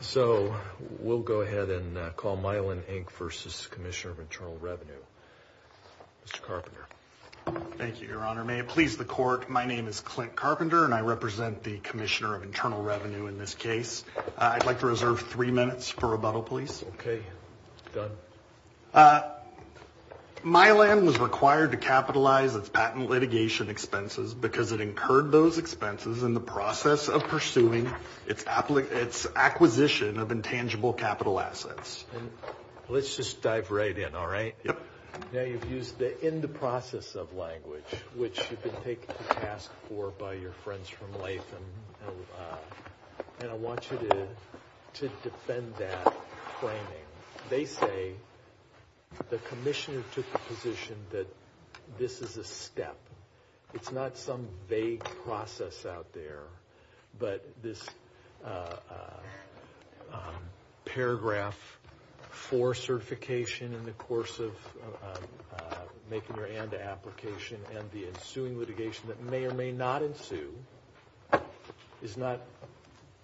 So, we'll go ahead and call Mylan Inc. v. Commissioner of Internal Revenue. Mr. Carpenter. Thank you, Your Honor. May it please the Court, my name is Clint Carpenter, and I represent the Commissioner of Internal Revenue in this case. I'd like to reserve three minutes for rebuttal, please. Okay. Go ahead. Mylan was required to capitalize its patent litigation expenses because it incurred those expenses in the process of pursuing its acquisition of intangible capital assets. Let's just dive right in, all right? Yep. Now, you've used the in the process of language, which you've been taken to task for by your friends from Latham, and I want you to defend that framing. They say the Commissioner took the position that this is a step. It's not some vague process out there, but this paragraph for certification in the course of making your ANDA application and the ensuing litigation that may or may not ensue is not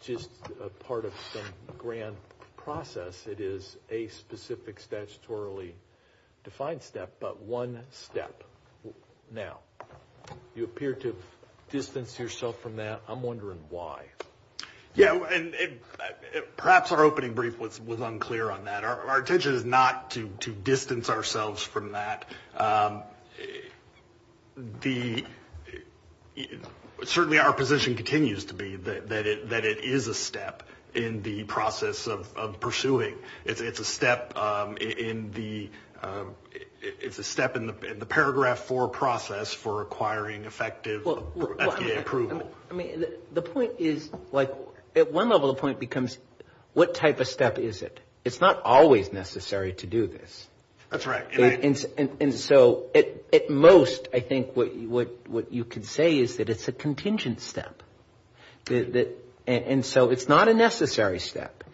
just a part of some grand process. It is a specific, statutorily defined step, but one step. Now, you appear to have distanced yourself from that. I'm wondering why. Yeah, and perhaps our opening brief was unclear on that. Our intention is not to distance ourselves from that. Certainly, our position continues to be that it is a step in the process of pursuing. It's a step in the paragraph four process for acquiring effective FDA approval. I mean, the point is, like, at one level, the point becomes what type of step is it? It's not always necessary to do this. That's right. And so at most, I think what you could say is that it's a contingent step. And so it's not a necessary step.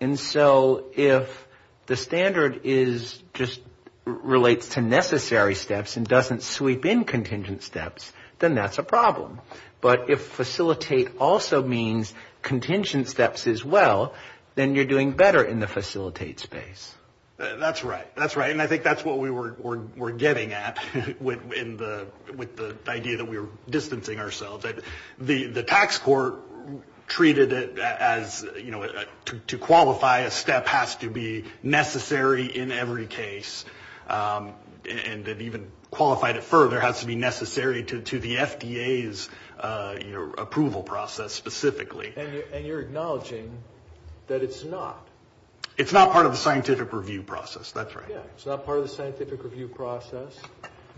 And so if the standard is just relates to necessary steps and doesn't sweep in contingent steps, then that's a problem. But if facilitate also means contingent steps as well, then you're doing better in the facilitate space. That's right. That's right. And I think that's what we were getting at with the idea that we were distancing ourselves. The tax court treated it as, you know, to qualify a step has to be necessary in every case, and that even qualified it further has to be necessary to the FDA's approval process specifically. And you're acknowledging that it's not. It's not part of the scientific review process. That's right. Yeah, it's not part of the scientific review process,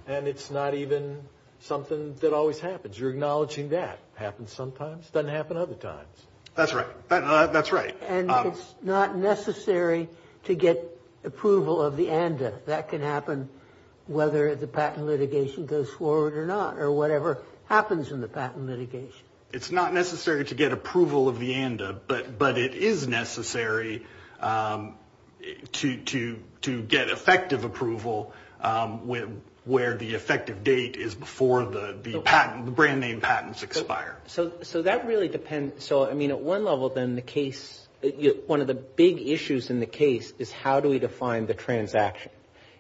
and it's not even something that always happens. You're acknowledging that happens sometimes, doesn't happen other times. That's right. That's right. And it's not necessary to get approval of the ANDA. That can happen whether the patent litigation goes forward or not or whatever happens in the patent litigation. It's not necessary to get approval of the ANDA, but it is necessary to get effective approval where the effective date is before the patent, the brand name patents expire. So that really depends. So, I mean, at one level then the case, one of the big issues in the case is how do we define the transaction?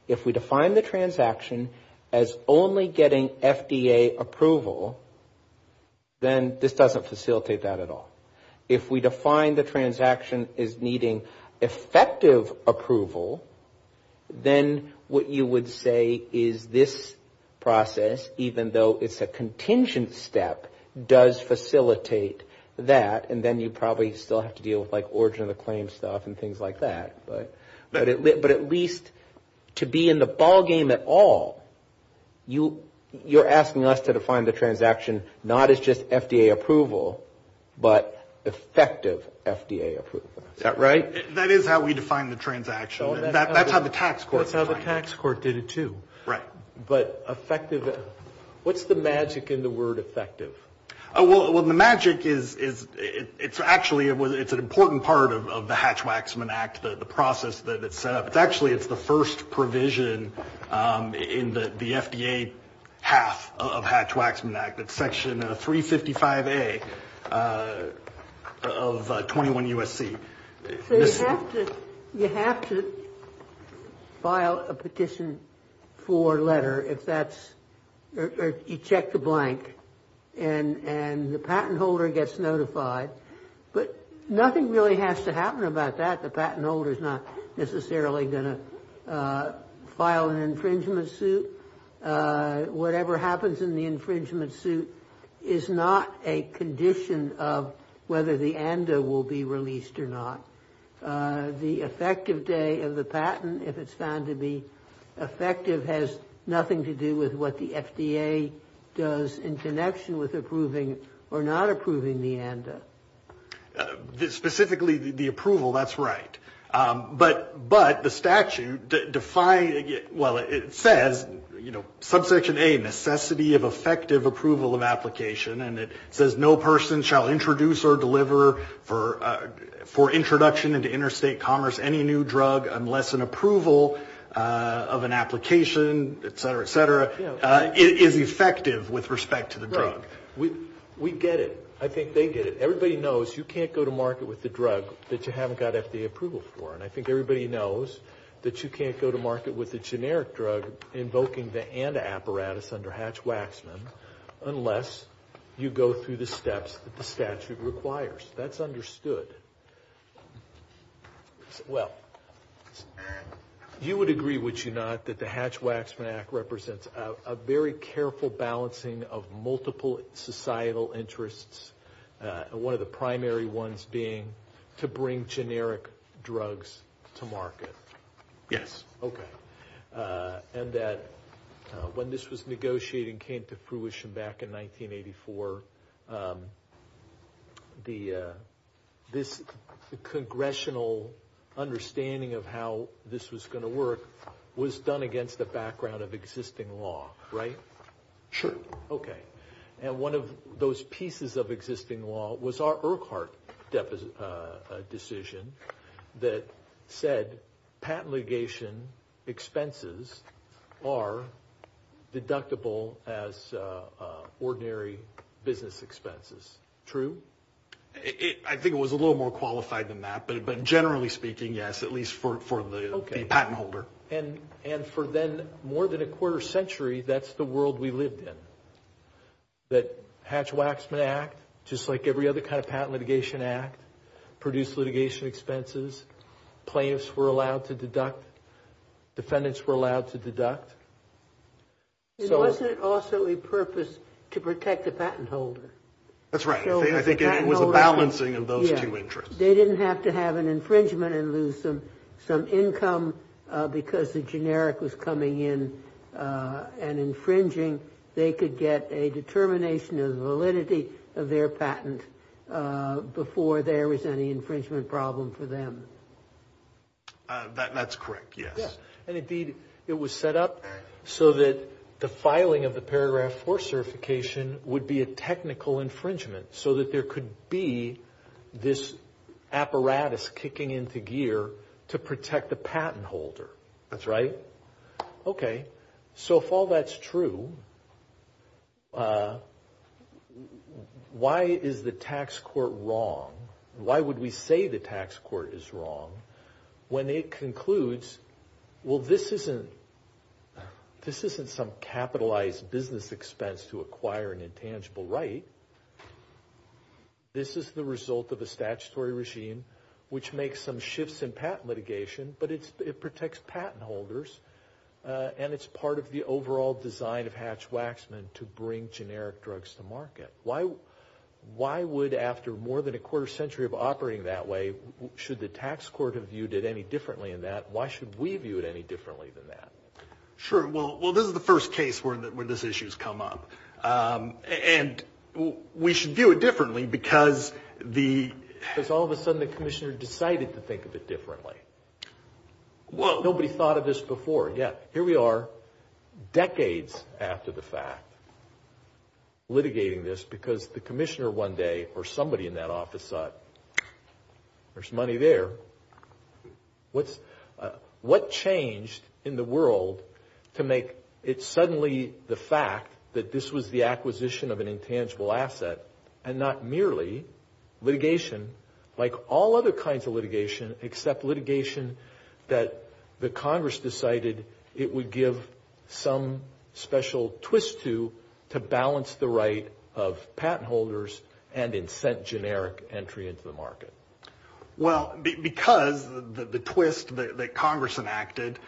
If we define the transaction as only getting FDA approval, then this doesn't facilitate that at all. If we define the transaction as needing effective approval, then what you would say is this process, even though it's a contingent step, does facilitate that. And then you probably still have to deal with like origin of the claim stuff and things like that. But at least to be in the ballgame at all, you're asking us to define the transaction not as just FDA approval, but effective FDA approval. Is that right? That is how we define the transaction. That's how the tax court defines it. That's how the tax court did it too. Right. But effective, what's the magic in the word effective? Well, the magic is it's actually, it's an important part of the Hatch-Waxman Act, the process that it's set up. It's actually, it's the first provision in the FDA half of Hatch-Waxman Act. It's Section 355A of 21 U.S.C. So you have to file a petition for letter if that's, or you check the blank and the patent holder gets notified. But nothing really has to happen about that. The patent holder is not necessarily going to file an infringement suit. Whatever happens in the infringement suit is not a condition of whether the ANDA will be released or not. The effective day of the patent, if it's found to be effective, has nothing to do with what the FDA does in connection with approving or not approving the ANDA. Specifically the approval, that's right. But the statute defines, well, it says, you know, subsection A, necessity of effective approval of application, and it says no person shall introduce or deliver for introduction into interstate commerce any new drug unless an approval of an application, et cetera, et cetera, is effective with respect to the drug. Right. We get it. I think they get it. Everybody knows you can't go to market with the drug that you haven't got FDA approval for, and I think everybody knows that you can't go to market with the generic drug invoking the ANDA apparatus under Hatch-Waxman unless you go through the steps that the statute requires. That's understood. Well, you would agree, would you not, that the Hatch-Waxman Act represents a very careful balancing of multiple societal interests and one of the primary ones being to bring generic drugs to market? Yes. Okay. And that when this was negotiated and came to fruition back in 1984, this congressional understanding of how this was going to work was done against the background of existing law, right? Sure. Okay. And one of those pieces of existing law was our Urquhart decision that said patent litigation expenses are deductible as ordinary business expenses. True? I think it was a little more qualified than that, but generally speaking, yes, at least for the patent holder. And for then more than a quarter century, that's the world we lived in, that Hatch-Waxman Act, just like every other kind of patent litigation act, produced litigation expenses. Plaintiffs were allowed to deduct. Defendants were allowed to deduct. It wasn't also a purpose to protect the patent holder. That's right. I think it was a balancing of those two interests. They didn't have to have an infringement and lose some income because the generic was coming in and infringing. They could get a determination of validity of their patent before there was any infringement problem for them. That's correct, yes. And, indeed, it was set up so that the filing of the paragraph 4 certification would be a technical infringement so that there could be this apparatus kicking into gear to protect the patent holder. That's right. Okay, so if all that's true, why is the tax court wrong? Why would we say the tax court is wrong when it concludes, well, this isn't some capitalized business expense to acquire an intangible right. This is the result of a statutory regime which makes some shifts in patent litigation, but it protects patent holders and it's part of the overall design of Hatch-Waxman to bring generic drugs to market. Why would, after more than a quarter century of operating that way, should the tax court have viewed it any differently than that? Why should we view it any differently than that? Sure. Well, this is the first case where this issue has come up, and we should view it differently because the… Because all of a sudden the commissioner decided to think of it differently. Nobody thought of this before. Yeah, here we are decades after the fact litigating this because the commissioner one day or somebody in that office thought, there's money there. What changed in the world to make it suddenly the fact that this was the acquisition of an intangible asset and not merely litigation like all other kinds of litigation except litigation that the Congress decided it would give some special twist to balance the right of patent holders and incent generic entry into the market? Well, because the twist that Congress enacted,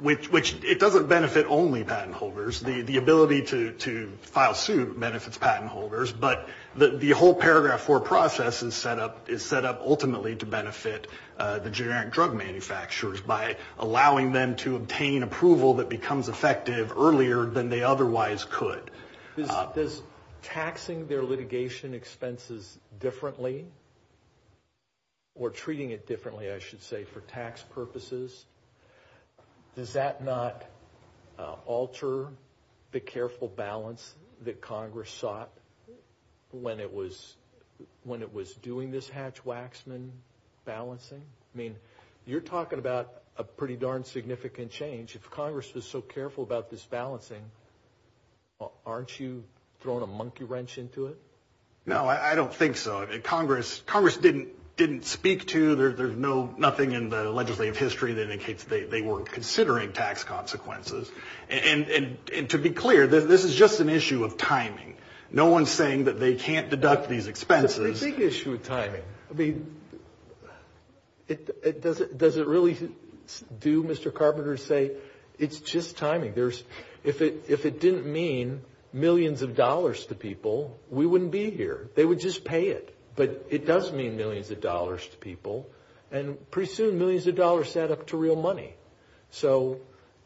which it doesn't benefit only patent holders. The ability to file suit benefits patent holders, but the whole paragraph four process is set up ultimately to benefit the generic drug manufacturers by allowing them to obtain approval that becomes effective earlier than they otherwise could. Does taxing their litigation expenses differently or treating it differently, I should say, for tax purposes, does that not alter the careful balance that Congress sought when it was doing this hatch-waxman balancing? I mean, you're talking about a pretty darn significant change. If Congress was so careful about this balancing, aren't you throwing a monkey wrench into it? No, I don't think so. Congress didn't speak to, there's nothing in the legislative history that indicates they weren't considering tax consequences. And to be clear, this is just an issue of timing. No one's saying that they can't deduct these expenses. That's the big issue with timing. I mean, does it really do, Mr. Carpenter, say it's just timing? If it didn't mean millions of dollars to people, we wouldn't be here. They would just pay it. But it does mean millions of dollars to people. And pretty soon, millions of dollars add up to real money. So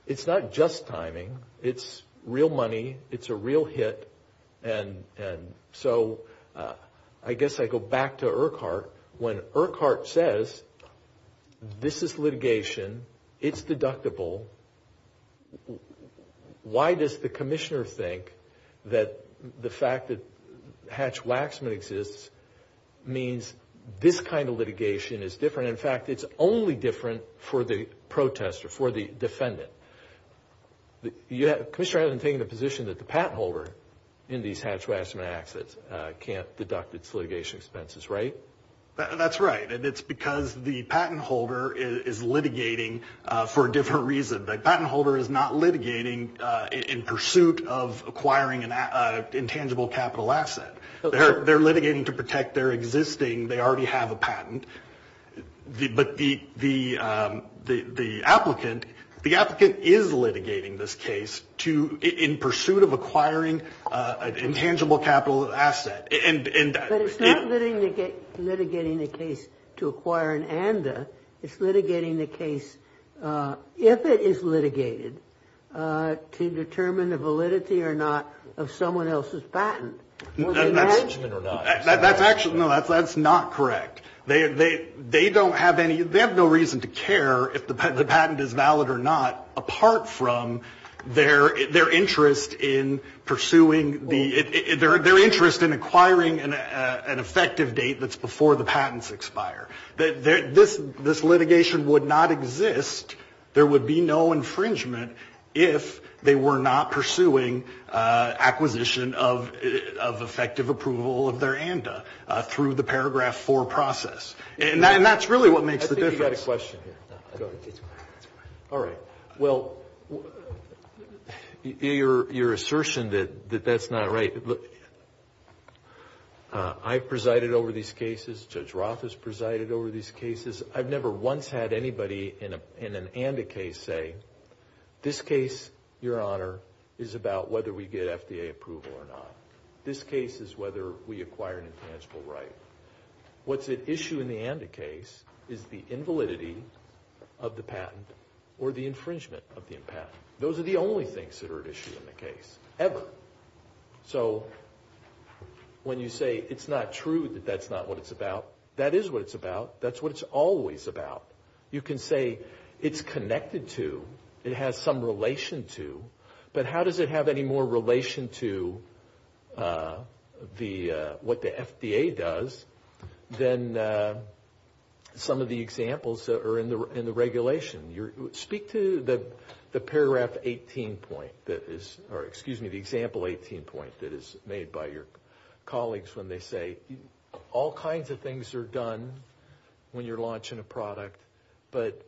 it's not just timing. It's real money. It's a real hit. And so I guess I go back to Urquhart. When Urquhart says this is litigation, it's deductible, why does the commissioner think that the fact that hatch-waxman exists means this kind of litigation is different? In fact, it's only different for the protester, for the defendant. The commissioner hasn't taken the position that the patent holder in these hatch-waxman acts can't deduct its litigation expenses, right? That's right. And it's because the patent holder is litigating for a different reason. The patent holder is not litigating in pursuit of acquiring an intangible capital asset. They're litigating to protect their existing, they already have a patent. But the applicant is litigating this case in pursuit of acquiring an intangible capital asset. But it's not litigating the case to acquire an ANDA. It's litigating the case, if it is litigated, to determine the validity or not of someone else's patent. That's not correct. They have no reason to care if the patent is valid or not, apart from their interest in acquiring an effective date that's before the patents expire. This litigation would not exist, there would be no infringement, if they were not pursuing acquisition of effective approval of their ANDA through the Paragraph 4 process. And that's really what makes the difference. I think you've got a question here. All right. Well, your assertion that that's not right, I presided over these cases. Judge Roth has presided over these cases. I've never once had anybody in an ANDA case say, this case, your honor, is about whether we get FDA approval or not. This case is whether we acquire an intangible right. What's at issue in the ANDA case is the invalidity of the patent or the infringement of the patent. Those are the only things that are at issue in the case, ever. So when you say it's not true that that's not what it's about, that is what it's about. That's what it's always about. You can say it's connected to, it has some relation to, but how does it have any more relation to what the FDA does than some of the examples that are in the regulation? Speak to the Paragraph 18 point that is, or excuse me, the example 18 point that is made by your colleagues when they say, all kinds of things are done when you're launching a product, but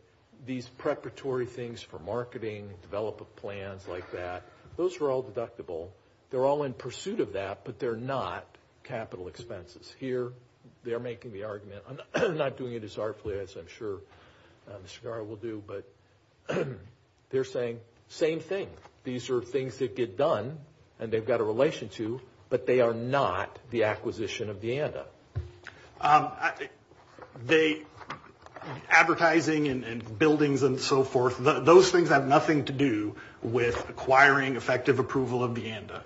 these preparatory things for marketing, development plans like that, those are all deductible. They're all in pursuit of that, but they're not capital expenses. Here, they're making the argument. I'm not doing it as artfully as I'm sure Mr. Garra will do, but they're saying, same thing. These are things that get done, and they've got a relation to, but they are not the acquisition of the ANDA. Advertising and buildings and so forth, those things have nothing to do with acquiring effective approval of the ANDA.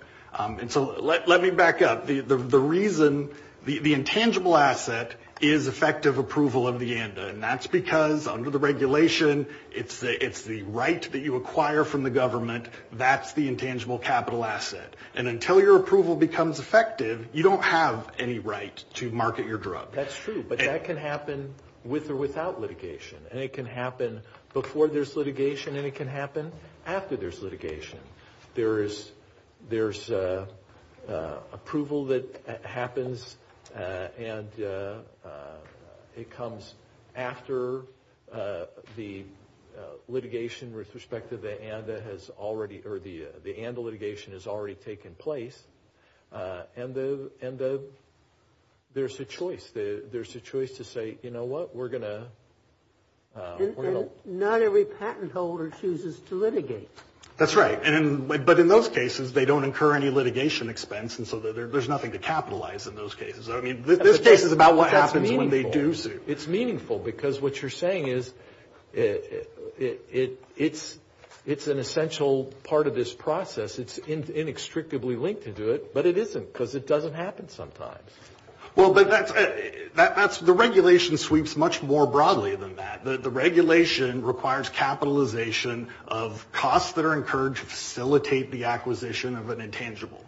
So let me back up. The reason, the intangible asset is effective approval of the ANDA, and that's because under the regulation, it's the right that you acquire from the government, that's the intangible capital asset, and until your approval becomes effective, you don't have any right to market your drug. That's true, but that can happen with or without litigation, and it can happen before there's litigation, and it can happen after there's litigation. There's approval that happens, and it comes after the litigation with respect to the ANDA has already, or the ANDA litigation has already taken place, and there's a choice. There's a choice to say, you know what, we're going to. That's right, but in those cases, they don't incur any litigation expense, and so there's nothing to capitalize in those cases. I mean, this case is about what happens when they do sue. It's meaningful because what you're saying is it's an essential part of this process. It's inextricably linked to do it, but it isn't because it doesn't happen sometimes. Well, the regulation sweeps much more broadly than that. The regulation requires capitalization of costs that are incurred to facilitate the acquisition of an intangible,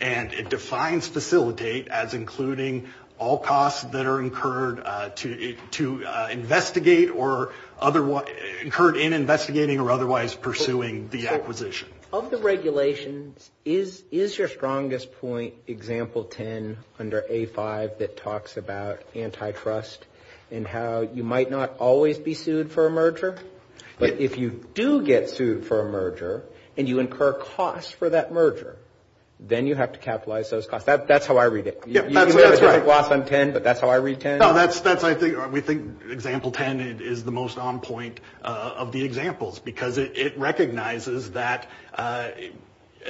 and it defines facilitate as including all costs that are incurred to investigate or incurred in investigating or otherwise pursuing the acquisition. Of the regulations, is your strongest point example 10 under A5 that talks about antitrust and how you might not always be sued for a merger, but if you do get sued for a merger and you incur costs for that merger, then you have to capitalize those costs. That's how I read it. You may have a different gloss on 10, but that's how I read 10. No, that's, I think, we think example 10 is the most on point of the examples because it recognizes that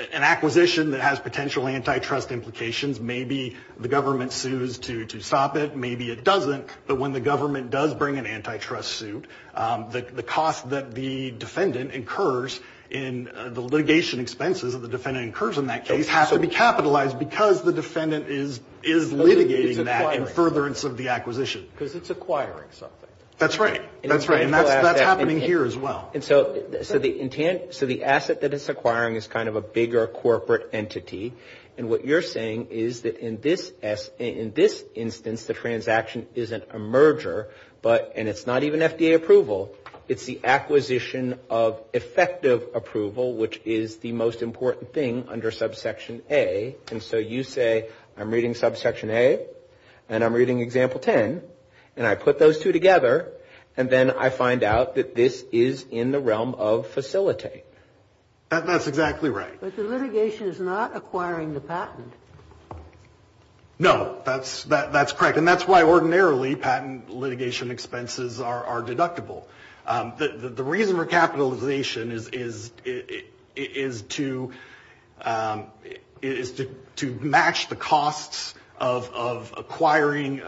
an acquisition that has potential antitrust implications, maybe the government sues to stop it, maybe it doesn't, but when the government does bring an antitrust suit, the cost that the defendant incurs in the litigation expenses that the defendant incurs in that case has to be capitalized because the defendant is litigating that in furtherance of the acquisition. Because it's acquiring something. That's right. That's right, and that's happening here as well. And so the intent, so the asset that it's acquiring is kind of a bigger corporate entity, and what you're saying is that in this instance the transaction isn't a merger, and it's not even FDA approval, it's the acquisition of effective approval, which is the most important thing under subsection A. And so you say I'm reading subsection A and I'm reading example 10, and I put those two together and then I find out that this is in the realm of facilitate. That's exactly right. But the litigation is not acquiring the patent. No, that's correct, and that's why ordinarily patent litigation expenses are deductible. The reason for capitalization is to match the costs of acquiring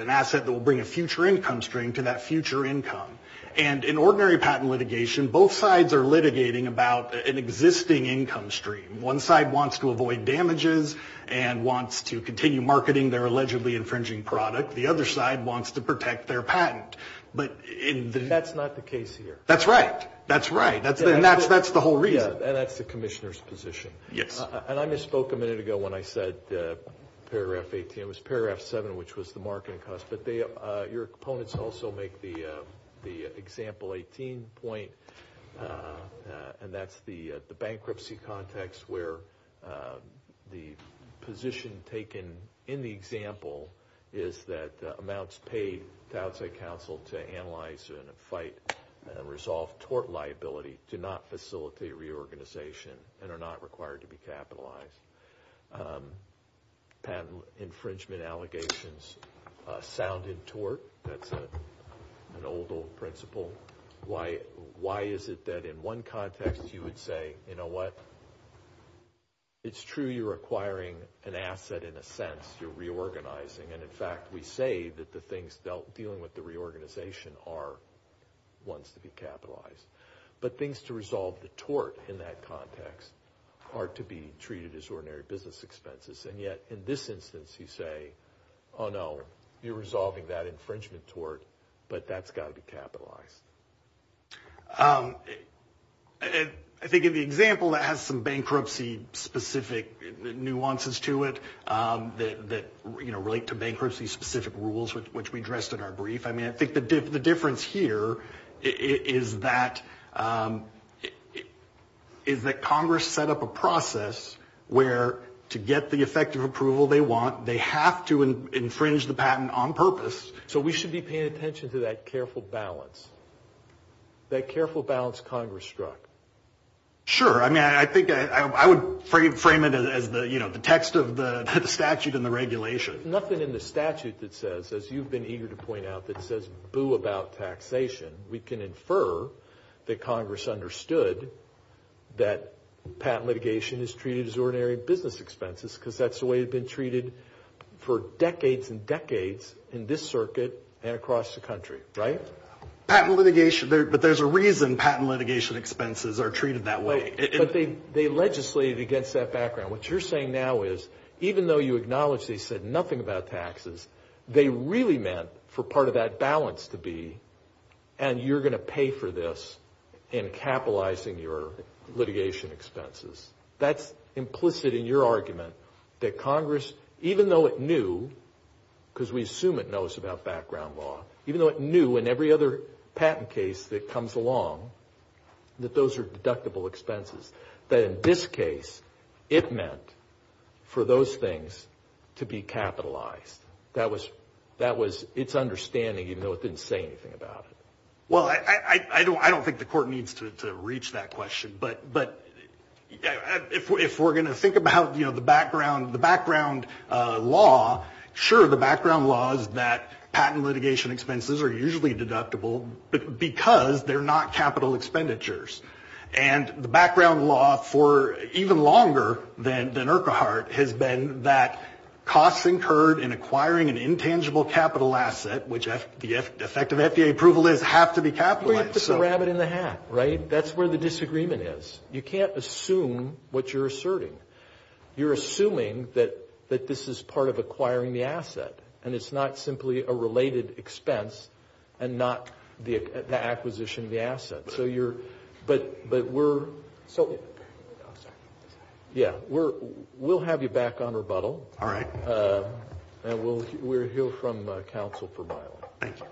an asset that will bring a future income string to that future income. And in ordinary patent litigation, both sides are litigating about an existing income stream. One side wants to avoid damages and wants to continue marketing their allegedly infringing product. The other side wants to protect their patent. That's not the case here. That's right. That's right, and that's the whole reason. And that's the commissioner's position. Yes. And I misspoke a minute ago when I said paragraph 18. It was paragraph 7, which was the marketing cost. Your opponents also make the example 18 point, and that's the bankruptcy context where the position taken in the example is that amounts paid to outside counsel to analyze and fight and resolve tort liability do not facilitate reorganization and are not required to be capitalized. Patent infringement allegations sound in tort. That's an old, old principle. Why is it that in one context you would say, you know what, it's true you're acquiring an asset in a sense. You're reorganizing, and in fact, we say that the things dealing with the reorganization are ones to be capitalized. But things to resolve the tort in that context are to be treated as ordinary business expenses, and yet in this instance you say, oh, no, you're resolving that infringement tort, but that's got to be capitalized. I think in the example that has some bankruptcy-specific nuances to it that relate to bankruptcy-specific rules, which we addressed in our brief, I mean, I think the difference here is that Congress set up a process where to get the effective approval they want, they have to infringe the patent on purpose. So we should be paying attention to that careful balance, that careful balance Congress struck. Sure. I mean, I think I would frame it as the text of the statute and the regulation. There's nothing in the statute that says, as you've been eager to point out, that says boo about taxation. We can infer that Congress understood that patent litigation is treated as ordinary business expenses because that's the way it's been treated for decades and decades in this circuit and across the country, right? Patent litigation, but there's a reason patent litigation expenses are treated that way. But they legislated against that background. What you're saying now is even though you acknowledge they said nothing about taxes, they really meant for part of that balance to be, and you're going to pay for this in capitalizing your litigation expenses. That's implicit in your argument that Congress, even though it knew, because we assume it knows about background law, even though it knew in every other patent case that comes along that those are deductible expenses, that in this case it meant for those things to be capitalized. That was its understanding, even though it didn't say anything about it. Well, I don't think the court needs to reach that question, but if we're going to think about the background law, sure, the background law is that patent litigation expenses are usually deductible because they're not capital expenditures. And the background law for even longer than Urquhart has been that costs incurred in acquiring an intangible capital asset, which the effective FDA approval is, have to be capitalized. Well, you have to put the rabbit in the hat, right? That's where the disagreement is. You can't assume what you're asserting. You're assuming that this is part of acquiring the asset, and it's not simply a related expense and not the acquisition of the asset. So we'll have you back on rebuttal, and we'll hear from counsel for a while. Thank you.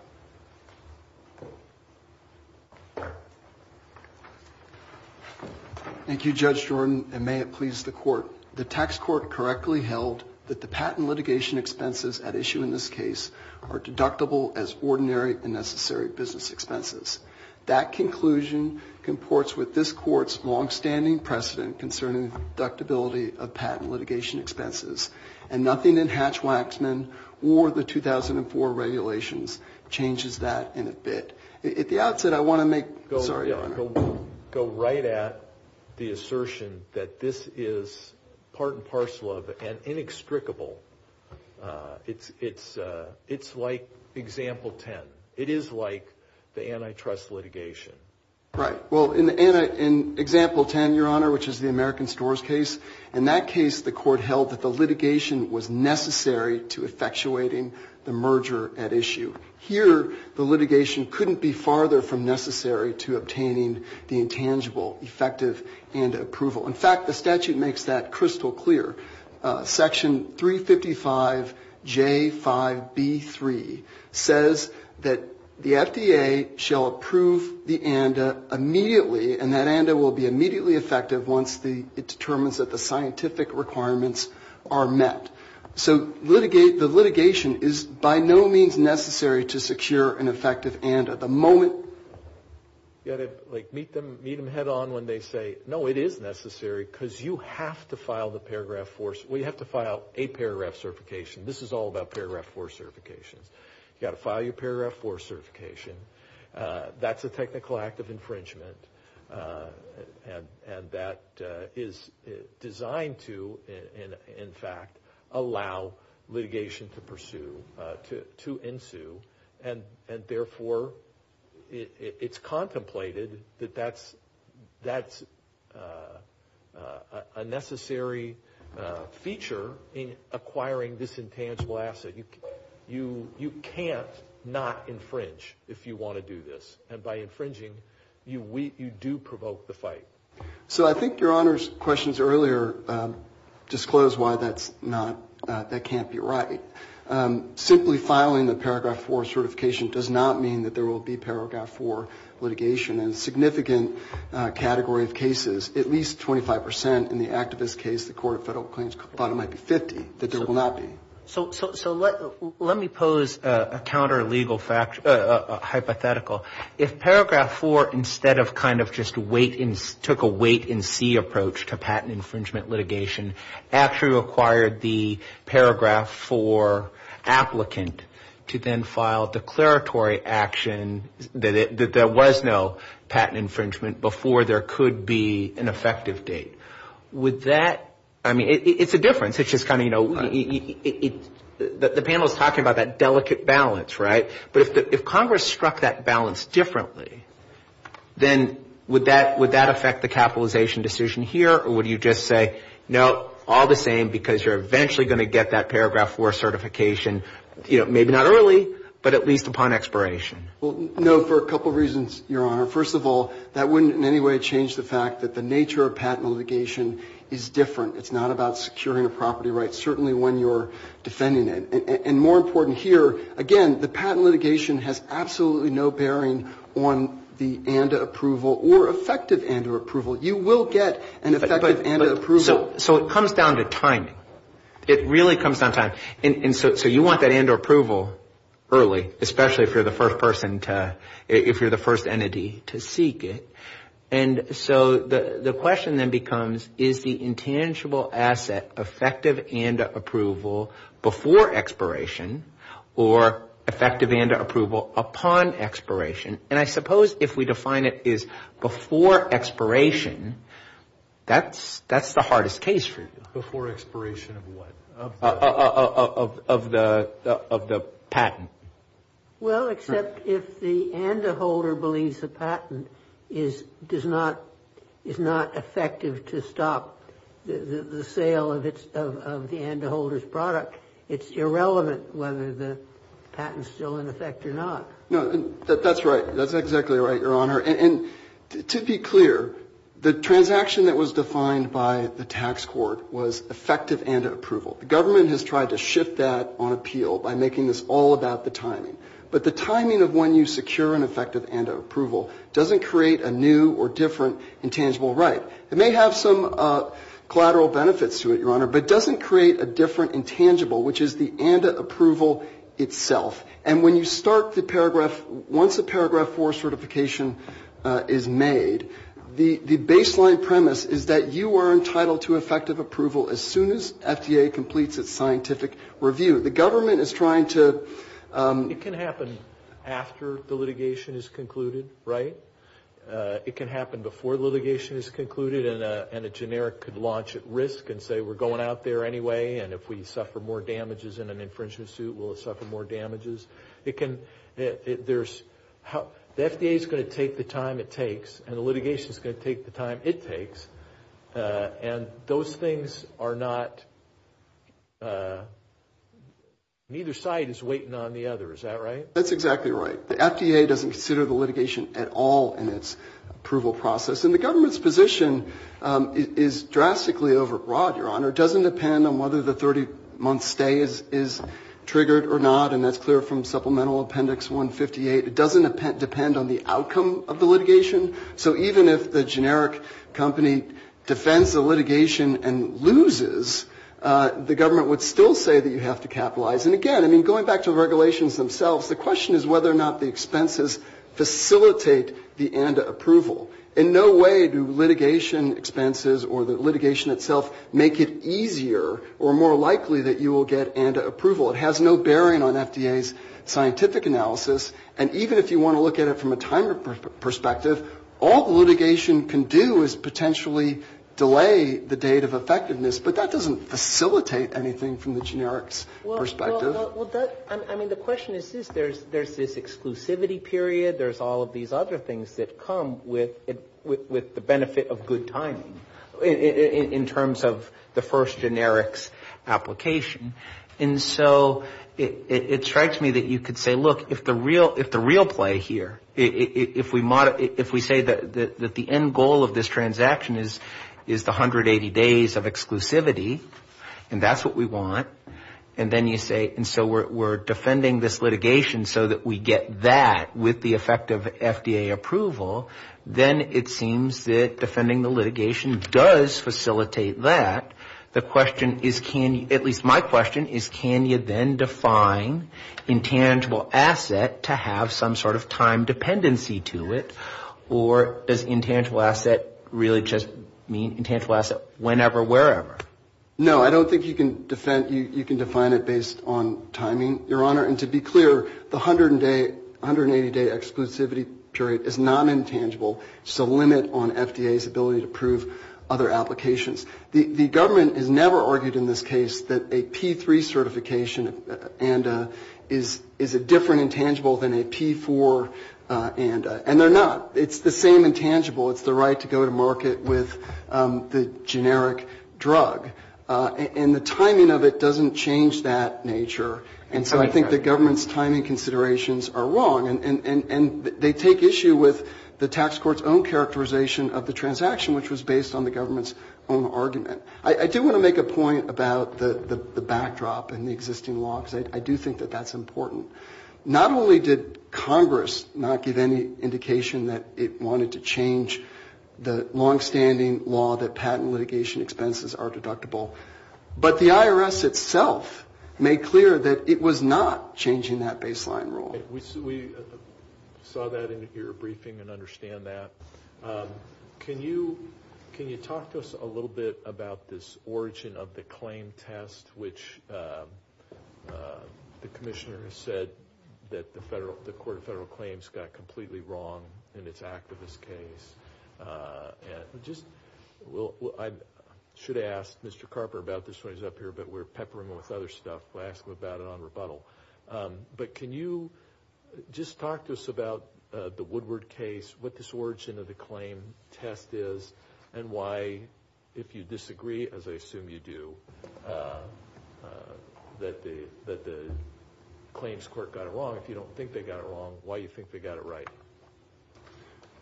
Thank you, Judge Jordan, and may it please the court. The tax court correctly held that the patent litigation expenses at issue in this case are deductible as ordinary and necessary business expenses. That conclusion comports with this court's longstanding precedent concerning deductibility of patent litigation expenses, and nothing in Hatch-Waxman or the 2004 regulations changes that in a bit. At the outset, I want to make the assertion that this is part and parcel of and inextricable. It's like example 10. It is like the antitrust litigation. Right. Well, in example 10, Your Honor, which is the American Stores case, in that case, the court held that the litigation was necessary to effectuating the merger at issue. Here, the litigation couldn't be farther from necessary to obtaining the intangible effective and approval. In fact, the statute makes that crystal clear. Section 355J5B3 says that the FDA shall approve the ANDA immediately, and that ANDA will be immediately effective once it determines that the scientific requirements are met. So the litigation is by no means necessary to secure an effective ANDA. You've got to meet them head on when they say, no, it is necessary because you have to file the paragraph 4. We have to file a paragraph certification. This is all about paragraph 4 certifications. You've got to file your paragraph 4 certification. That's a technical act of infringement, and that is designed to, in fact, allow litigation to pursue, to ensue, and therefore it's contemplated that that's a necessary feature in acquiring this intangible asset. You can't not infringe if you want to do this, and by infringing, you do provoke the fight. So I think Your Honor's questions earlier disclose why that can't be right. Simply filing the paragraph 4 certification does not mean that there will be paragraph 4 litigation. In a significant category of cases, at least 25 percent in the activist case, the Court of Federal Claims thought it might be 50, that there will not be. So let me pose a counter-legal hypothetical. If paragraph 4 instead of kind of just took a wait-and-see approach to patent infringement litigation actually required the paragraph 4 applicant to then file declaratory action that there was no patent infringement before there could be an effective date, would that, I mean, it's a difference. It's just kind of, you know, the panel is talking about that delicate balance, right? But if Congress struck that balance differently, then would that affect the capitalization decision here, or would you just say, no, all the same, because you're eventually going to get that paragraph 4 certification, you know, maybe not early, but at least upon expiration? Well, no, for a couple of reasons, Your Honor. First of all, that wouldn't in any way change the fact that the nature of patent litigation is different. It's not about securing a property right, certainly when you're defending it. And more important here, again, the patent litigation has absolutely no bearing on the ANDA approval or effective ANDA approval. You will get an effective ANDA approval. So it comes down to timing. It really comes down to timing. And so you want that ANDA approval early, especially if you're the first person to ‑‑ if you're the first entity to seek it. And so the question then becomes, is the intangible asset effective ANDA approval before expiration or effective ANDA approval upon expiration? And I suppose if we define it as before expiration, that's the hardest case for you. Before expiration of what? Of the patent. Well, except if the ANDA holder believes the patent is not effective to stop the sale of the ANDA holder's product, it's irrelevant whether the patent is still in effect or not. No, that's right. That's exactly right, Your Honor. And to be clear, the transaction that was defined by the tax court was effective ANDA approval. The government has tried to shift that on appeal by making this all about the timing. But the timing of when you secure an effective ANDA approval doesn't create a new or different intangible right. It may have some collateral benefits to it, Your Honor, but it doesn't create a different intangible, which is the ANDA approval itself. And when you start the paragraph, once the paragraph 4 certification is made, the baseline premise is that you are entitled to effective approval as soon as FDA completes its scientific review. The government is trying to ‑‑ It can happen after the litigation is concluded, right? It can happen before the litigation is concluded, and a generic could launch at risk and say we're going out there anyway, and if we suffer more damages in an infringement suit, will it suffer more damages? It can ‑‑ the FDA is going to take the time it takes, and the litigation is going to take the time it takes, and those things are not ‑‑ neither side is waiting on the other. Is that right? That's exactly right. The FDA doesn't consider the litigation at all in its approval process. And the government's position is drastically overbroad, Your Honor. It doesn't depend on whether the 30‑month stay is triggered or not, and that's clear from supplemental appendix 158. It doesn't depend on the outcome of the litigation. So even if the generic company defends the litigation and loses, the government would still say that you have to capitalize. And, again, I mean, going back to the regulations themselves, the question is whether or not the expenses facilitate the ANDA approval. In no way do litigation expenses or the litigation itself make it easier or more likely that you will get ANDA approval. It has no bearing on FDA's scientific analysis, and even if you want to look at it from a time perspective, all the litigation can do is potentially delay the date of effectiveness, but that doesn't facilitate anything from the generics perspective. Well, I mean, the question is this. There's this exclusivity period. There's all of these other things that come with the benefit of good timing in terms of the first generics application. And so it strikes me that you could say, look, if the real play here, if we say that the end goal of this transaction is the 180 days of exclusivity, and that's what we want, and then you say, and so we're defending this litigation so that we get that with the effect of FDA approval, then it seems that defending the litigation does facilitate that. The question is can you, at least my question, is can you then define intangible asset to have some sort of time dependency to it, or does intangible asset really just mean intangible asset whenever, wherever? No. I don't think you can define it based on timing, Your Honor. And to be clear, the 180-day exclusivity period is not intangible. It's a limit on FDA's ability to approve other applications. The government has never argued in this case that a P-3 certification ANDA is a different intangible than a P-4 ANDA, and they're not. It's the same intangible. It's the right to go to market with the generic drug. And the timing of it doesn't change that nature, and so I think the government's timing considerations are wrong, and they take issue with the tax court's own characterization of the transaction, which was based on the government's own argument. I do want to make a point about the backdrop and the existing law, because I do think that that's important. Not only did Congress not give any indication that it wanted to change the longstanding law that patent litigation expenses are deductible, but the IRS itself made clear that it was not changing that baseline rule. We saw that in your briefing and understand that. Can you talk to us a little bit about this origin of the claim test, which the commissioner has said that the Court of Federal Claims got completely wrong in its activist case. I should have asked Mr. Carper about this when he was up here, but we're peppering him with other stuff. We'll ask him about it on rebuttal. But can you just talk to us about the Woodward case, what this origin of the claim test is, and why, if you disagree, as I assume you do, that the claims court got it wrong. If you don't think they got it wrong, why do you think they got it right?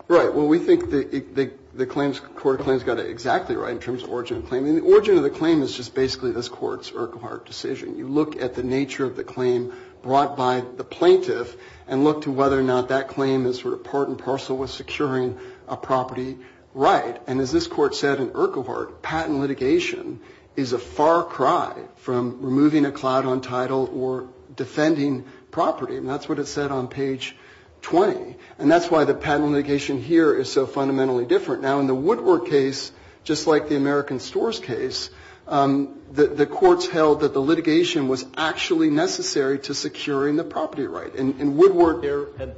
Right. Well, we think the claims court claims got it exactly right in terms of origin of claim. The origin of the claim is just basically this Court's Urquhart decision. You look at the nature of the claim brought by the plaintiff and look to whether or not that claim is sort of part and parcel with securing a property right. And as this court said in Urquhart, patent litigation is a far cry from removing a cloud on title or defending property. And that's what it said on page 20. And that's why the patent litigation here is so fundamentally different. Now, in the Woodward case, just like the American Stores case, the courts held that the litigation was actually necessary to securing the property right. And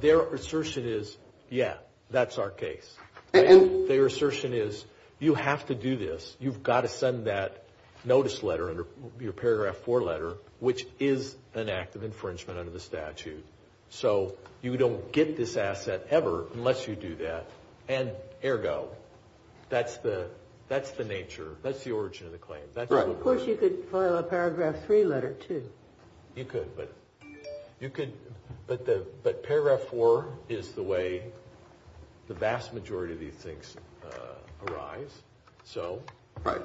their assertion is, yeah, that's our case. Their assertion is, you have to do this. You've got to send that notice letter, your paragraph 4 letter, which is an act of infringement under the statute. So you don't get this asset ever unless you do that. And ergo, that's the nature. That's the origin of the claim. Of course, you could file a paragraph 3 letter, too. You could, but paragraph 4 is the way the vast majority of these things arise. So what's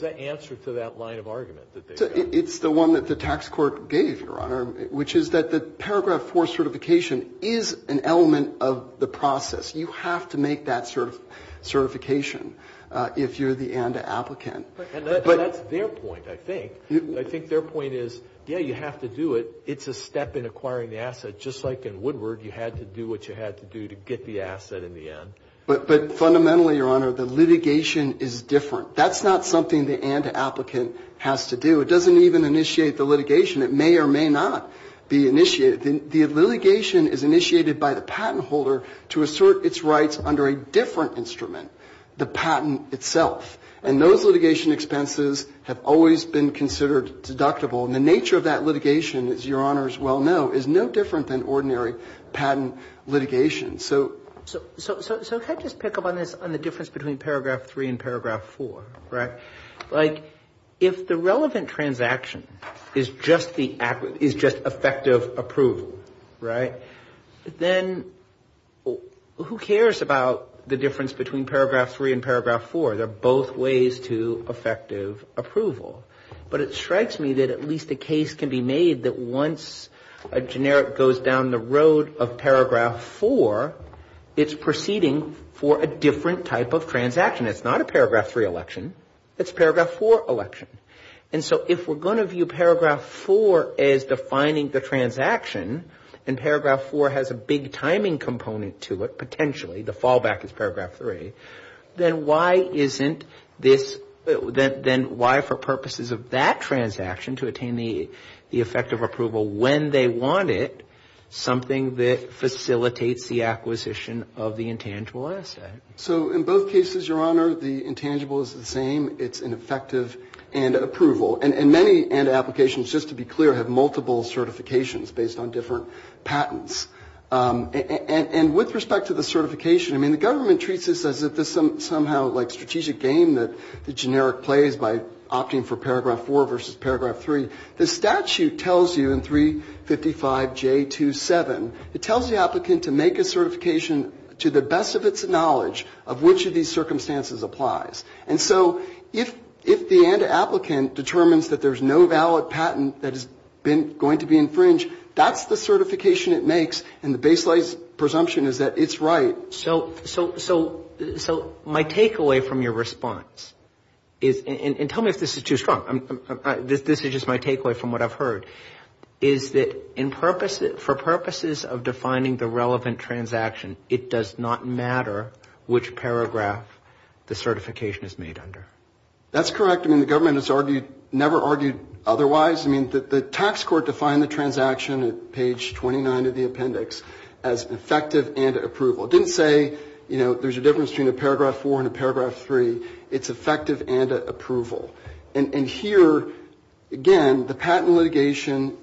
the answer to that line of argument? It's the one that the tax court gave, Your Honor, which is that the paragraph 4 certification is an element of the process. You have to make that certification if you're the ANDA applicant. But that's their point, I think. I think their point is, yeah, you have to do it. It's a step in acquiring the asset. Just like in Woodward, you had to do what you had to do to get the asset in the end. But fundamentally, Your Honor, the litigation is different. That's not something the ANDA applicant has to do. It doesn't even initiate the litigation. It may or may not be initiated. The litigation is initiated by the patent holder to assert its rights under a different instrument, the patent itself. And those litigation expenses have always been considered deductible. And the nature of that litigation, as Your Honors well know, is no different than ordinary patent litigation. So can I just pick up on this, on the difference between paragraph 3 and paragraph 4, right? Like, if the relevant transaction is just effective approval, right, then who cares about the difference between paragraph 3 and paragraph 4? They're both ways to effective approval. But it strikes me that at least a case can be made that once a generic goes down the road of paragraph 4, it's proceeding for a different type of transaction. It's not a paragraph 3 election. It's a paragraph 4 election. And so if we're going to view paragraph 4 as defining the transaction, and paragraph 4 has a big timing component to it, potentially, the fallback is paragraph 3, then why isn't this, then why for purposes of that transaction to attain the effective approval when they want it, something that facilitates the acquisition of the intangible asset? So in both cases, Your Honor, the intangible is the same. It's an effective end approval. And many end applications, just to be clear, have multiple certifications based on different patents. And with respect to the certification, I mean, the government treats this as if it's somehow like strategic game that the generic plays by opting for paragraph 4 versus paragraph 3. The statute tells you in 355J27, it tells the applicant to make a certification to the best of its knowledge of which of these circumstances applies. And so if the end applicant determines that there's no valid patent that is going to be infringed, that's the certification it makes, and the baseline presumption is that it's right. So my takeaway from your response is, and tell me if this is too strong. This is just my takeaway from what I've heard, is that for purposes of defining the relevant transaction, it does not matter which paragraph the certification is made under. That's correct. I mean, the government has never argued otherwise. I mean, the tax court defined the transaction at page 29 of the appendix as effective end approval. It didn't say, you know, there's a difference between a paragraph 4 and a paragraph 3. It's effective end approval. And here, again, the patent litigation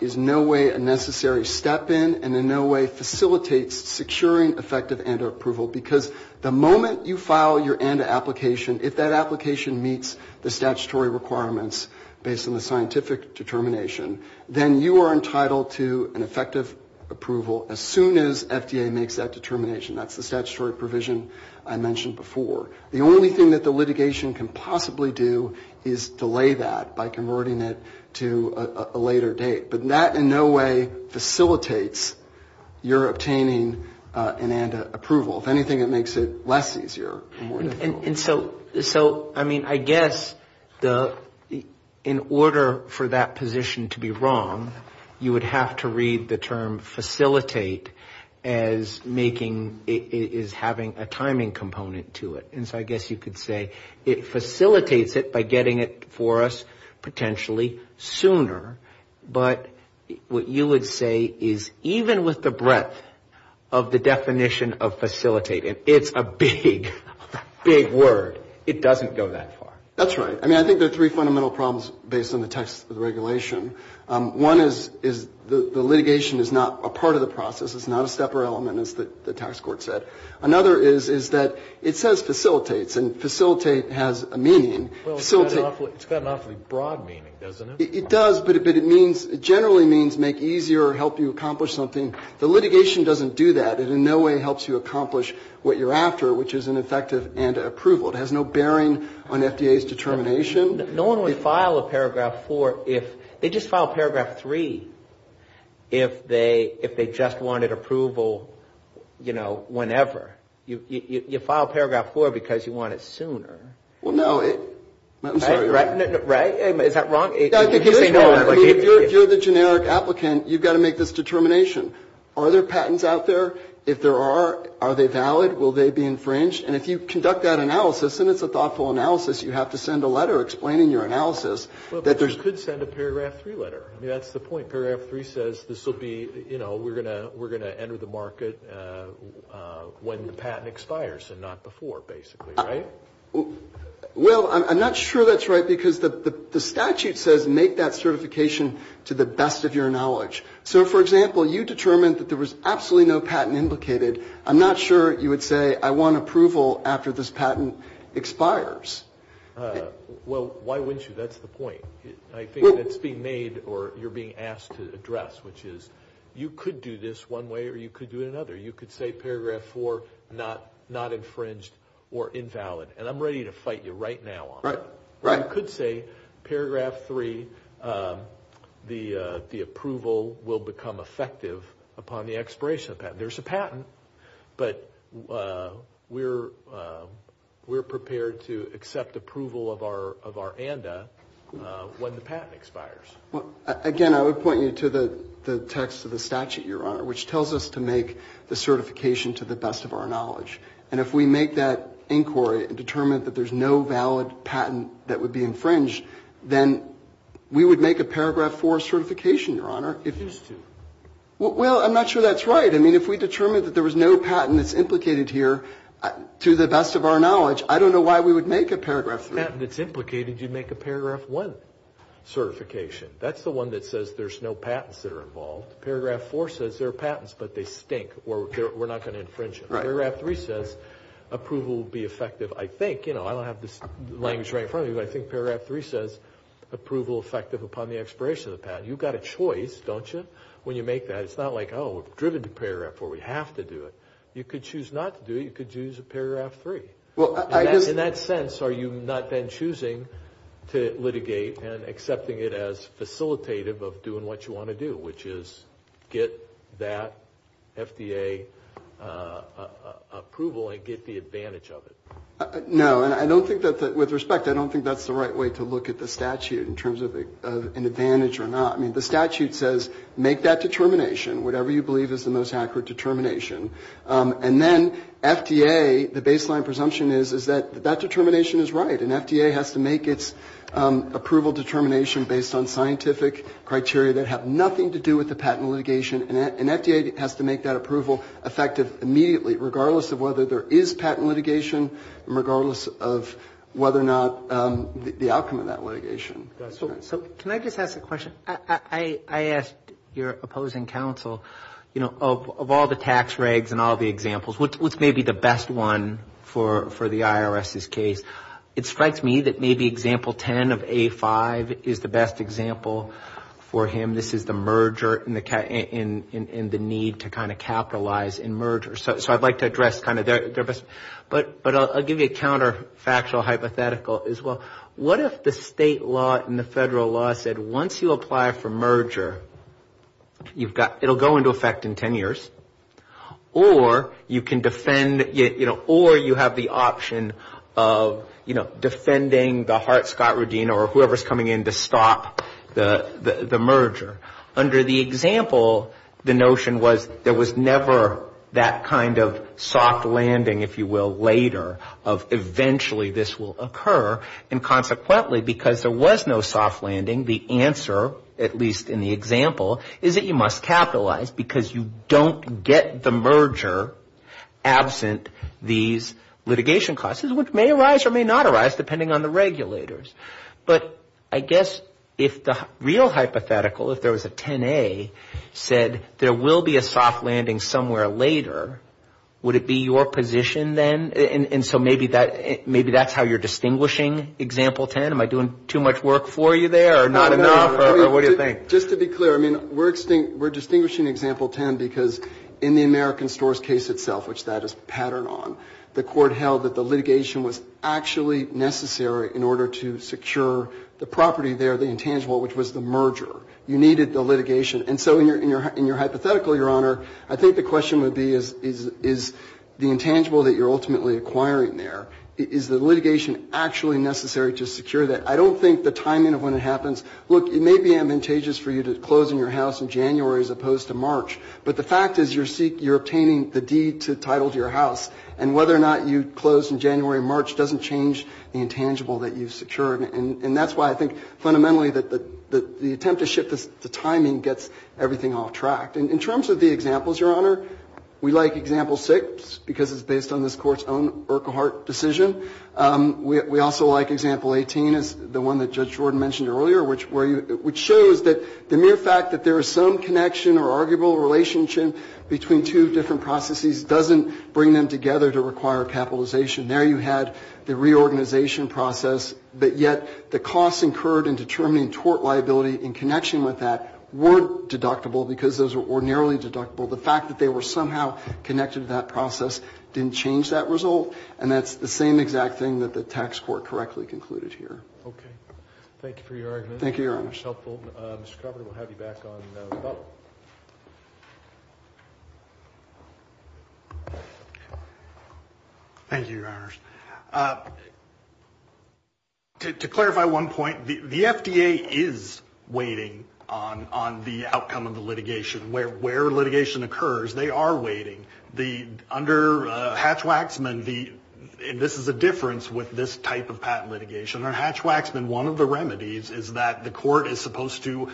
is in no way a necessary step in and in no way facilitates securing effective end approval. Because the moment you file your end application, if that application meets the statutory requirements based on the scientific determination, then you are entitled to an effective approval as soon as FDA makes that determination. That's the statutory provision I mentioned before. The only thing that the litigation can possibly do is delay that by converting it to a later date. But that in no way facilitates your obtaining an end approval. If anything, it makes it less easier. And so, I mean, I guess in order for that position to be wrong, you would have to read the term facilitate as making, as having a timing component to it. And so I guess you could say it facilitates it by getting it for us potentially sooner. But what you would say is even with the breadth of the definition of facilitate, and it's a big, big word, it doesn't go that far. That's right. I mean, I think there are three fundamental problems based on the text of the regulation. One is the litigation is not a part of the process. It's not a stepper element, as the tax court said. Another is that it says facilitates, and facilitate has a meaning. Well, it's got an awfully broad meaning, doesn't it? It does, but it means, it generally means make easier or help you accomplish something. The litigation doesn't do that. It in no way helps you accomplish what you're after, which is an effective and approval. It has no bearing on FDA's determination. No one would file a paragraph four if, they just file paragraph three, if they just wanted approval, you know, whenever. You file paragraph four because you want it sooner. Well, no. I'm sorry. Right? Right? Is that wrong? If you're the generic applicant, you've got to make this determination. Are there patents out there? If there are, are they valid? Will they be infringed? And if you conduct that analysis, and it's a thoughtful analysis, you have to send a letter explaining your analysis. Well, but you could send a paragraph three letter. I mean, that's the point. Paragraph three says this will be, you know, we're going to enter the market when the patent expires and not before, basically. Right? Well, I'm not sure that's right because the statute says make that certification to the best of your knowledge. So, for example, you determined that there was absolutely no patent implicated. I'm not sure you would say I want approval after this patent expires. Well, why wouldn't you? That's the point. I think that's being made or you're being asked to address, which is you could do this one way or you could do it another. You could say paragraph four not infringed or invalid. And I'm ready to fight you right now on that. Right. Right. But I would say paragraph three, the approval will become effective upon the expiration of the patent. There's a patent, but we're prepared to accept approval of our ANDA when the patent expires. Again, I would point you to the text of the statute, Your Honor, which tells us to make the certification to the best of our knowledge. And if we make that inquiry and determine that there's no valid patent that would be infringed, then we would make a paragraph four certification, Your Honor. We used to. Well, I'm not sure that's right. I mean, if we determined that there was no patent that's implicated here, to the best of our knowledge, I don't know why we would make a paragraph three. A patent that's implicated, you'd make a paragraph one certification. That's the one that says there's no patents that are involved. Paragraph four says there are patents, but they stink or we're not going to infringe them. Paragraph three says approval will be effective, I think. You know, I don't have this language right in front of me, but I think paragraph three says approval effective upon the expiration of the patent. You've got a choice, don't you, when you make that? It's not like, oh, we're driven to paragraph four. We have to do it. You could choose not to do it. You could choose a paragraph three. In that sense, are you not then choosing to litigate and accepting it as facilitative of doing what you want to do, which is get that FDA approval and get the advantage of it? No, and I don't think that, with respect, I don't think that's the right way to look at the statute in terms of an advantage or not. I mean, the statute says make that determination, whatever you believe is the most accurate determination. And then FDA, the baseline presumption is, is that that determination is right, and FDA has to make its approval determination based on scientific criteria that have nothing to do with the patent litigation, and FDA has to make that approval effective immediately, regardless of whether there is patent litigation, and regardless of whether or not the outcome of that litigation. So can I just ask a question? I asked your opposing counsel, you know, of all the tax regs and all the examples, what's maybe the best one for the IRS's case? It strikes me that maybe example 10 of A5 is the best example for him. This is the merger and the need to kind of capitalize in mergers. So I'd like to address kind of their best, but I'll give you a counterfactual hypothetical as well. What if the state law and the federal law said once you apply for merger, you've got, it will go into effect in ten years, or you can defend, you know, or you have the option of, you know, defending the Hart-Scott routine or whoever's coming in to stop the merger. Under the example, the notion was there was never that kind of soft landing, if you will, later, of eventually this will occur, and consequently, because there was no soft landing, the answer, at least in the example, is that you must capitalize because you don't get the merger absent these litigation costs, which may arise or may not arise, depending on the regulators. But I guess if the real hypothetical, if there was a 10A, said there will be a soft landing somewhere later, would it be your position then? And so maybe that's how you're distinguishing example 10? Am I doing too much work for you there or not enough, or what do you think? Just to be clear, I mean, we're distinguishing example 10 because in the American stores case itself, which that is patterned on, the court held that the litigation was actually necessary in order to secure the property there, the intangible, which was the merger. You needed the litigation. And so in your hypothetical, Your Honor, I think the question would be is the intangible that you're ultimately acquiring there, is the litigation actually necessary to secure that? I don't think the timing of when it happens, look, it may be advantageous for you to close in your house in January as opposed to March, but the fact is you're obtaining the deed to title to your house, and whether or not you close in January or March doesn't change the intangible and the relationship, the timing gets everything off track. And in terms of the examples, Your Honor, we like example 6 because it's based on this Court's own Urquhart decision. We also like example 18 as the one that Judge Jordan mentioned earlier, which shows that the mere fact that there is some connection or arguable relationship between two different processes doesn't bring them together to require capitalization. There you had the reorganization process, but yet the costs incurred in determining tort liability in connection with the deed and in connection with that were deductible because those were ordinarily deductible. The fact that they were somehow connected to that process didn't change that result, and that's the same exact thing that the tax court correctly concluded here. Okay. Thank you for your argument. Thank you, Your Honor. Thank you. Thank you, Your Honors. To clarify one point, the FDA is waiting on the outcome of the litigation. Where litigation occurs, they are waiting. Under Hatch-Waxman, this is a difference with this type of patent litigation. Under Hatch-Waxman, one of the remedies is that the court is supposed to,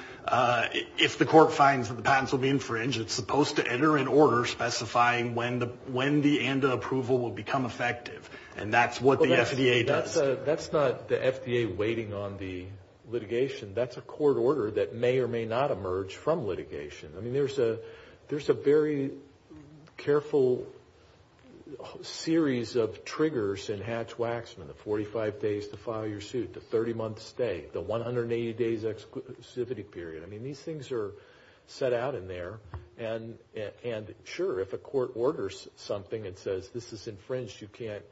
if the court finds that the patents will be infringed, it's supposed to enter an order specifying when the ANDA approval will become effective, and that's what the FDA does. That's not the FDA waiting on the litigation. That's a court order that may or may not emerge from litigation. I mean, there's a very careful series of triggers in Hatch-Waxman, the 45 days to file your suit, the 30-month stay, the 180 days exclusivity period. I mean, these things are set out in there, and sure, if a court orders something and says, this is infringed, you can't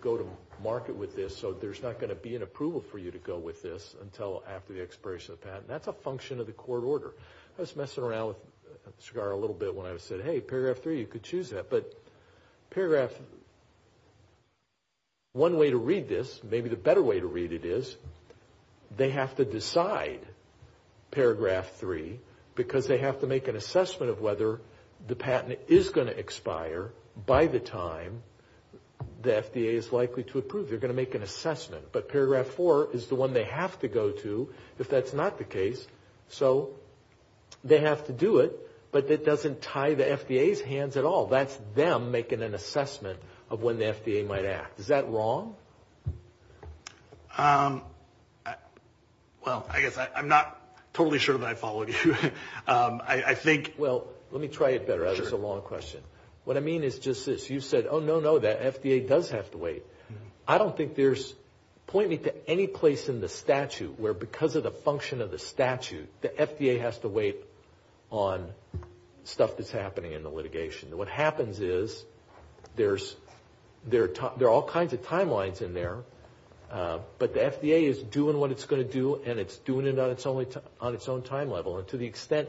go to market with this, so there's not going to be an approval for you to go with this until after the expiration of the patent. That's a function of the court order. I was messing around with Chigar a little bit when I said, hey, Paragraph 3, you could choose that, but Paragraph 1 way to read this, maybe the better way to read it is they have to decide Paragraph 3, because they have to make an assessment of whether the patent is going to expire by the time the FDA is likely to approve. They're going to make an assessment, but Paragraph 4 is the one they have to go to if that's not the case, so they have to do it, but it doesn't tie the FDA's hands at all. That's them making an assessment of when the FDA might act. Is that wrong? Well, I guess I'm not totally sure that I followed you. Well, let me try it better. That was a long question. What I mean is just this. You said, oh, no, no, the FDA does have to wait. I don't think there's, point me to any place in the statute where because of the function of the statute, the FDA has to wait on stuff that's happening in the litigation. What happens is there are all kinds of timelines in there, but the FDA is doing what it's going to do, and it's doing it on its own time level. And to the extent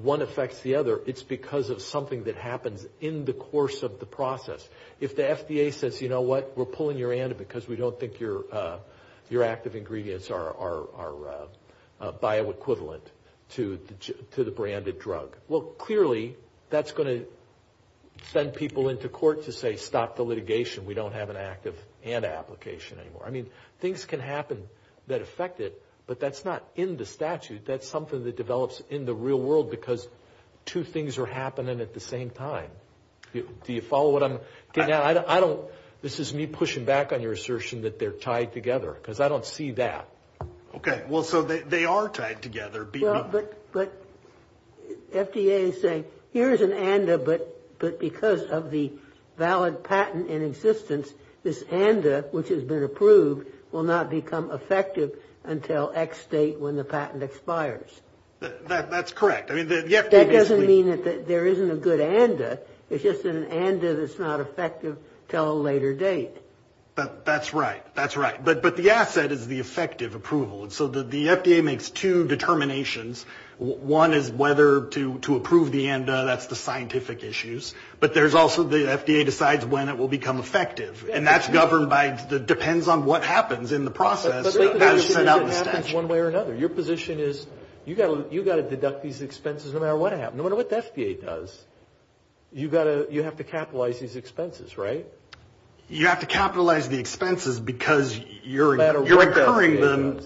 one affects the other, it's because of something that happens in the course of the process. If the FDA says, you know what, we're pulling your anti because we don't think your active ingredients are bioequivalent to the branded drug, well, clearly that's going to send people into court to say stop the litigation. We don't have an active anti-application anymore. I mean, things can happen that affect it, but that's not in the statute. That's something that develops in the real world because two things are happening at the same time. Do you follow what I'm getting at? This is me pushing back on your assertion that they're tied together, because I don't see that. Okay, well, so they are tied together. But FDA is saying here is an ANDA, but because of the valid patent in existence, this ANDA, which has been approved, will not become effective until X date when the patent expires. That's correct. That doesn't mean that there isn't a good ANDA. It's just an ANDA that's not effective until a later date. That's right. But the asset is the effective approval. So the FDA makes two determinations. One is whether to approve the ANDA. That's the scientific issues. But there's also the FDA decides when it will become effective. And that's governed by, depends on what happens in the process as it's sent out in the statute. Your position is you've got to deduct these expenses no matter what happens. No matter what the FDA does. You have to capitalize these expenses, right? You have to capitalize the expenses because you're incurring them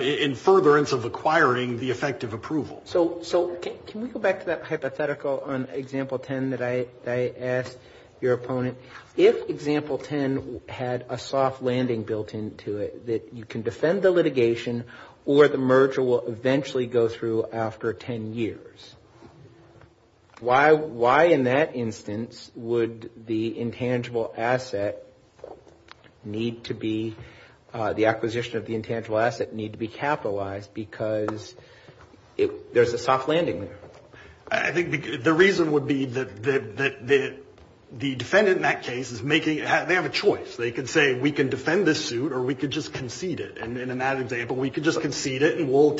in furtherance of acquiring the effective approval. So can we go back to that hypothetical on example 10 that I asked your opponent? If example 10 had a soft landing built into it, that you can defend the litigation, or the merger will eventually go through after 10 years. Why in that instance would the intangible asset need to be, the acquisition of the intangible asset need to be capitalized? Because there's a soft landing there. I think the reason would be that the defendant in that case is making, they have a choice. They can say we can defend this suit or we can just concede it. And in that example we can just concede it and we'll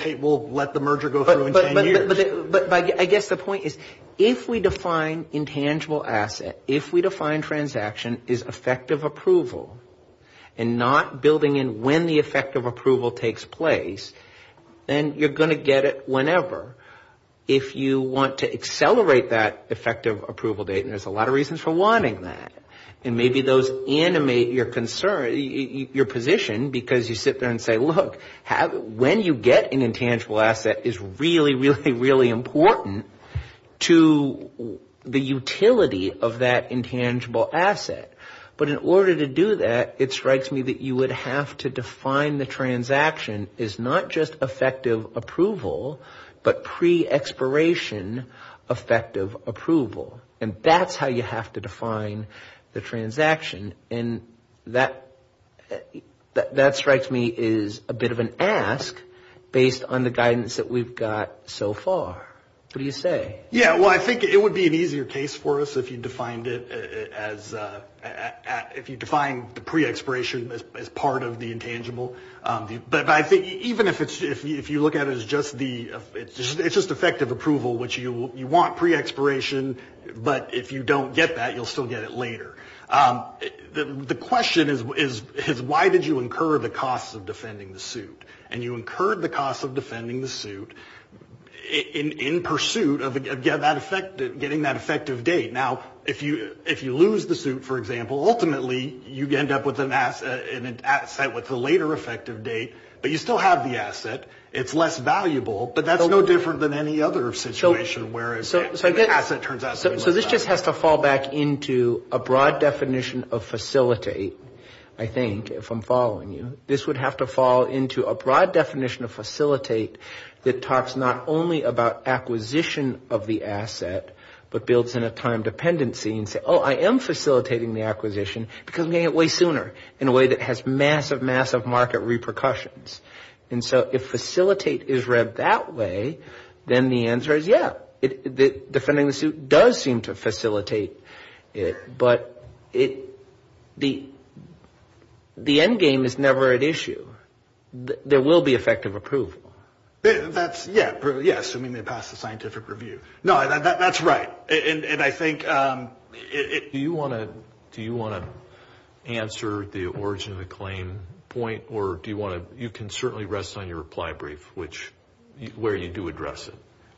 let the merger go through in 10 years. But I guess the point is if we define intangible asset, if we define transaction as effective approval, and not building in when the effective approval takes place, then you're going to get it whenever. If you want to accelerate that effective approval date, and there's a lot of reasons for wanting that. And maybe those animate your concern, your position, because you sit there and say, look, when you get an intangible asset is really, really, really important to the utility of that intangible asset. But in order to do that, it strikes me that you would have to define the transaction as not just effective approval, but pre-expiration effective approval. And that's how you have to define the transaction. And that strikes me as a bit of an ask based on the guidance that we've got so far. What do you say? If you define the pre-expiration as part of the intangible. But I think even if you look at it as just the, it's just effective approval, which you want pre-expiration, but if you don't get that, you'll still get it later. The question is why did you incur the cost of defending the suit? And you incurred the cost of defending the suit in pursuit of getting that effective date. Now, if you lose the suit, for example, ultimately you end up with an asset with a later effective date, but you still have the asset. It's less valuable, but that's no different than any other situation where an asset turns out to be less valuable. So this just has to fall back into a broad definition of facilitate, I think, if I'm following you. This would have to fall into a broad definition of facilitate that talks not only about acquisition of the asset, but builds in a time dependency and say, oh, I am facilitating the acquisition, because I'm getting it way sooner in a way that has massive, massive market repercussions. And so if facilitate is read that way, then the answer is yeah, defending the suit does seem to facilitate it, but the end game is never at issue. There will be effective approval. That's right. Do you want to answer the origin of the claim point, or you can certainly rest on your reply brief where you do address it?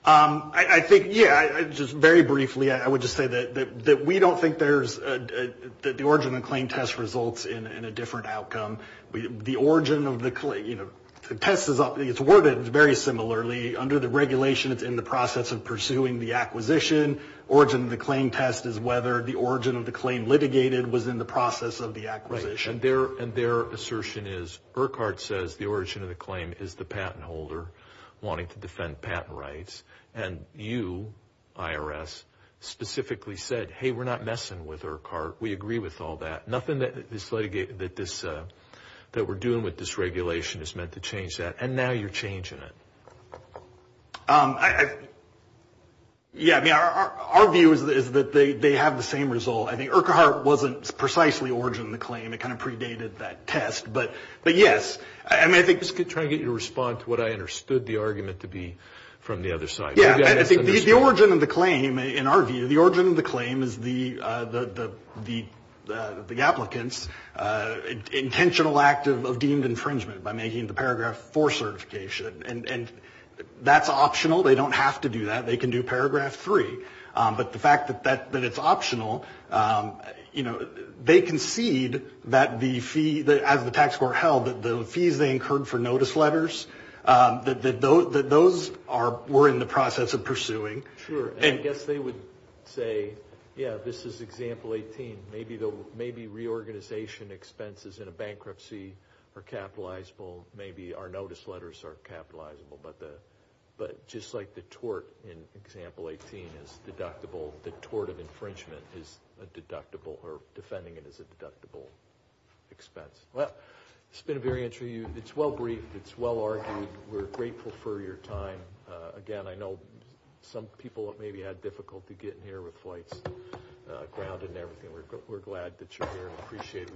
Yeah, just very briefly, I would just say that we don't think that the origin of the claim test results in a different outcome. The origin of the claim, you know, it's worded very similarly. Under the regulation, it's in the process of pursuing the acquisition. Origin of the claim test is whether the origin of the claim litigated was in the process of the acquisition. Right, and their assertion is Urquhart says the origin of the claim is the patent holder wanting to defend patent rights. And you, IRS, specifically said, hey, we're not messing with Urquhart. We agree with all that. Nothing that we're doing with this regulation is meant to change that, and now you're changing it. Yeah, I mean, our view is that they have the same result. I think Urquhart wasn't precisely origin of the claim. It kind of predated that test. But, yes, I mean, I think this could try to get you to respond to what I understood the argument to be from the other side. Yeah, I think the origin of the claim, in our view, the origin of the claim is the applicant's intentional act of deemed infringement by making the paragraph four certification. And that's optional. They don't have to do that. They can do paragraph three. But the fact that it's optional, they concede that the fee, as the tax court held, that the fees they incurred for notice letters, that those were in the process of pursuing. Sure, and I guess they would say, yeah, this is example 18. Maybe reorganization expenses in a bankruptcy are capitalizable. Maybe our notice letters are capitalizable. But just like the tort in example 18 is deductible, the tort of infringement is a deductible, or defending it as a deductible expense. Well, it's been a very interview. It's well-briefed. It's well-argued. We're grateful for your time. Again, I know some people have maybe had difficulty getting here with flights grounded and everything. We're glad that you're here and appreciate it.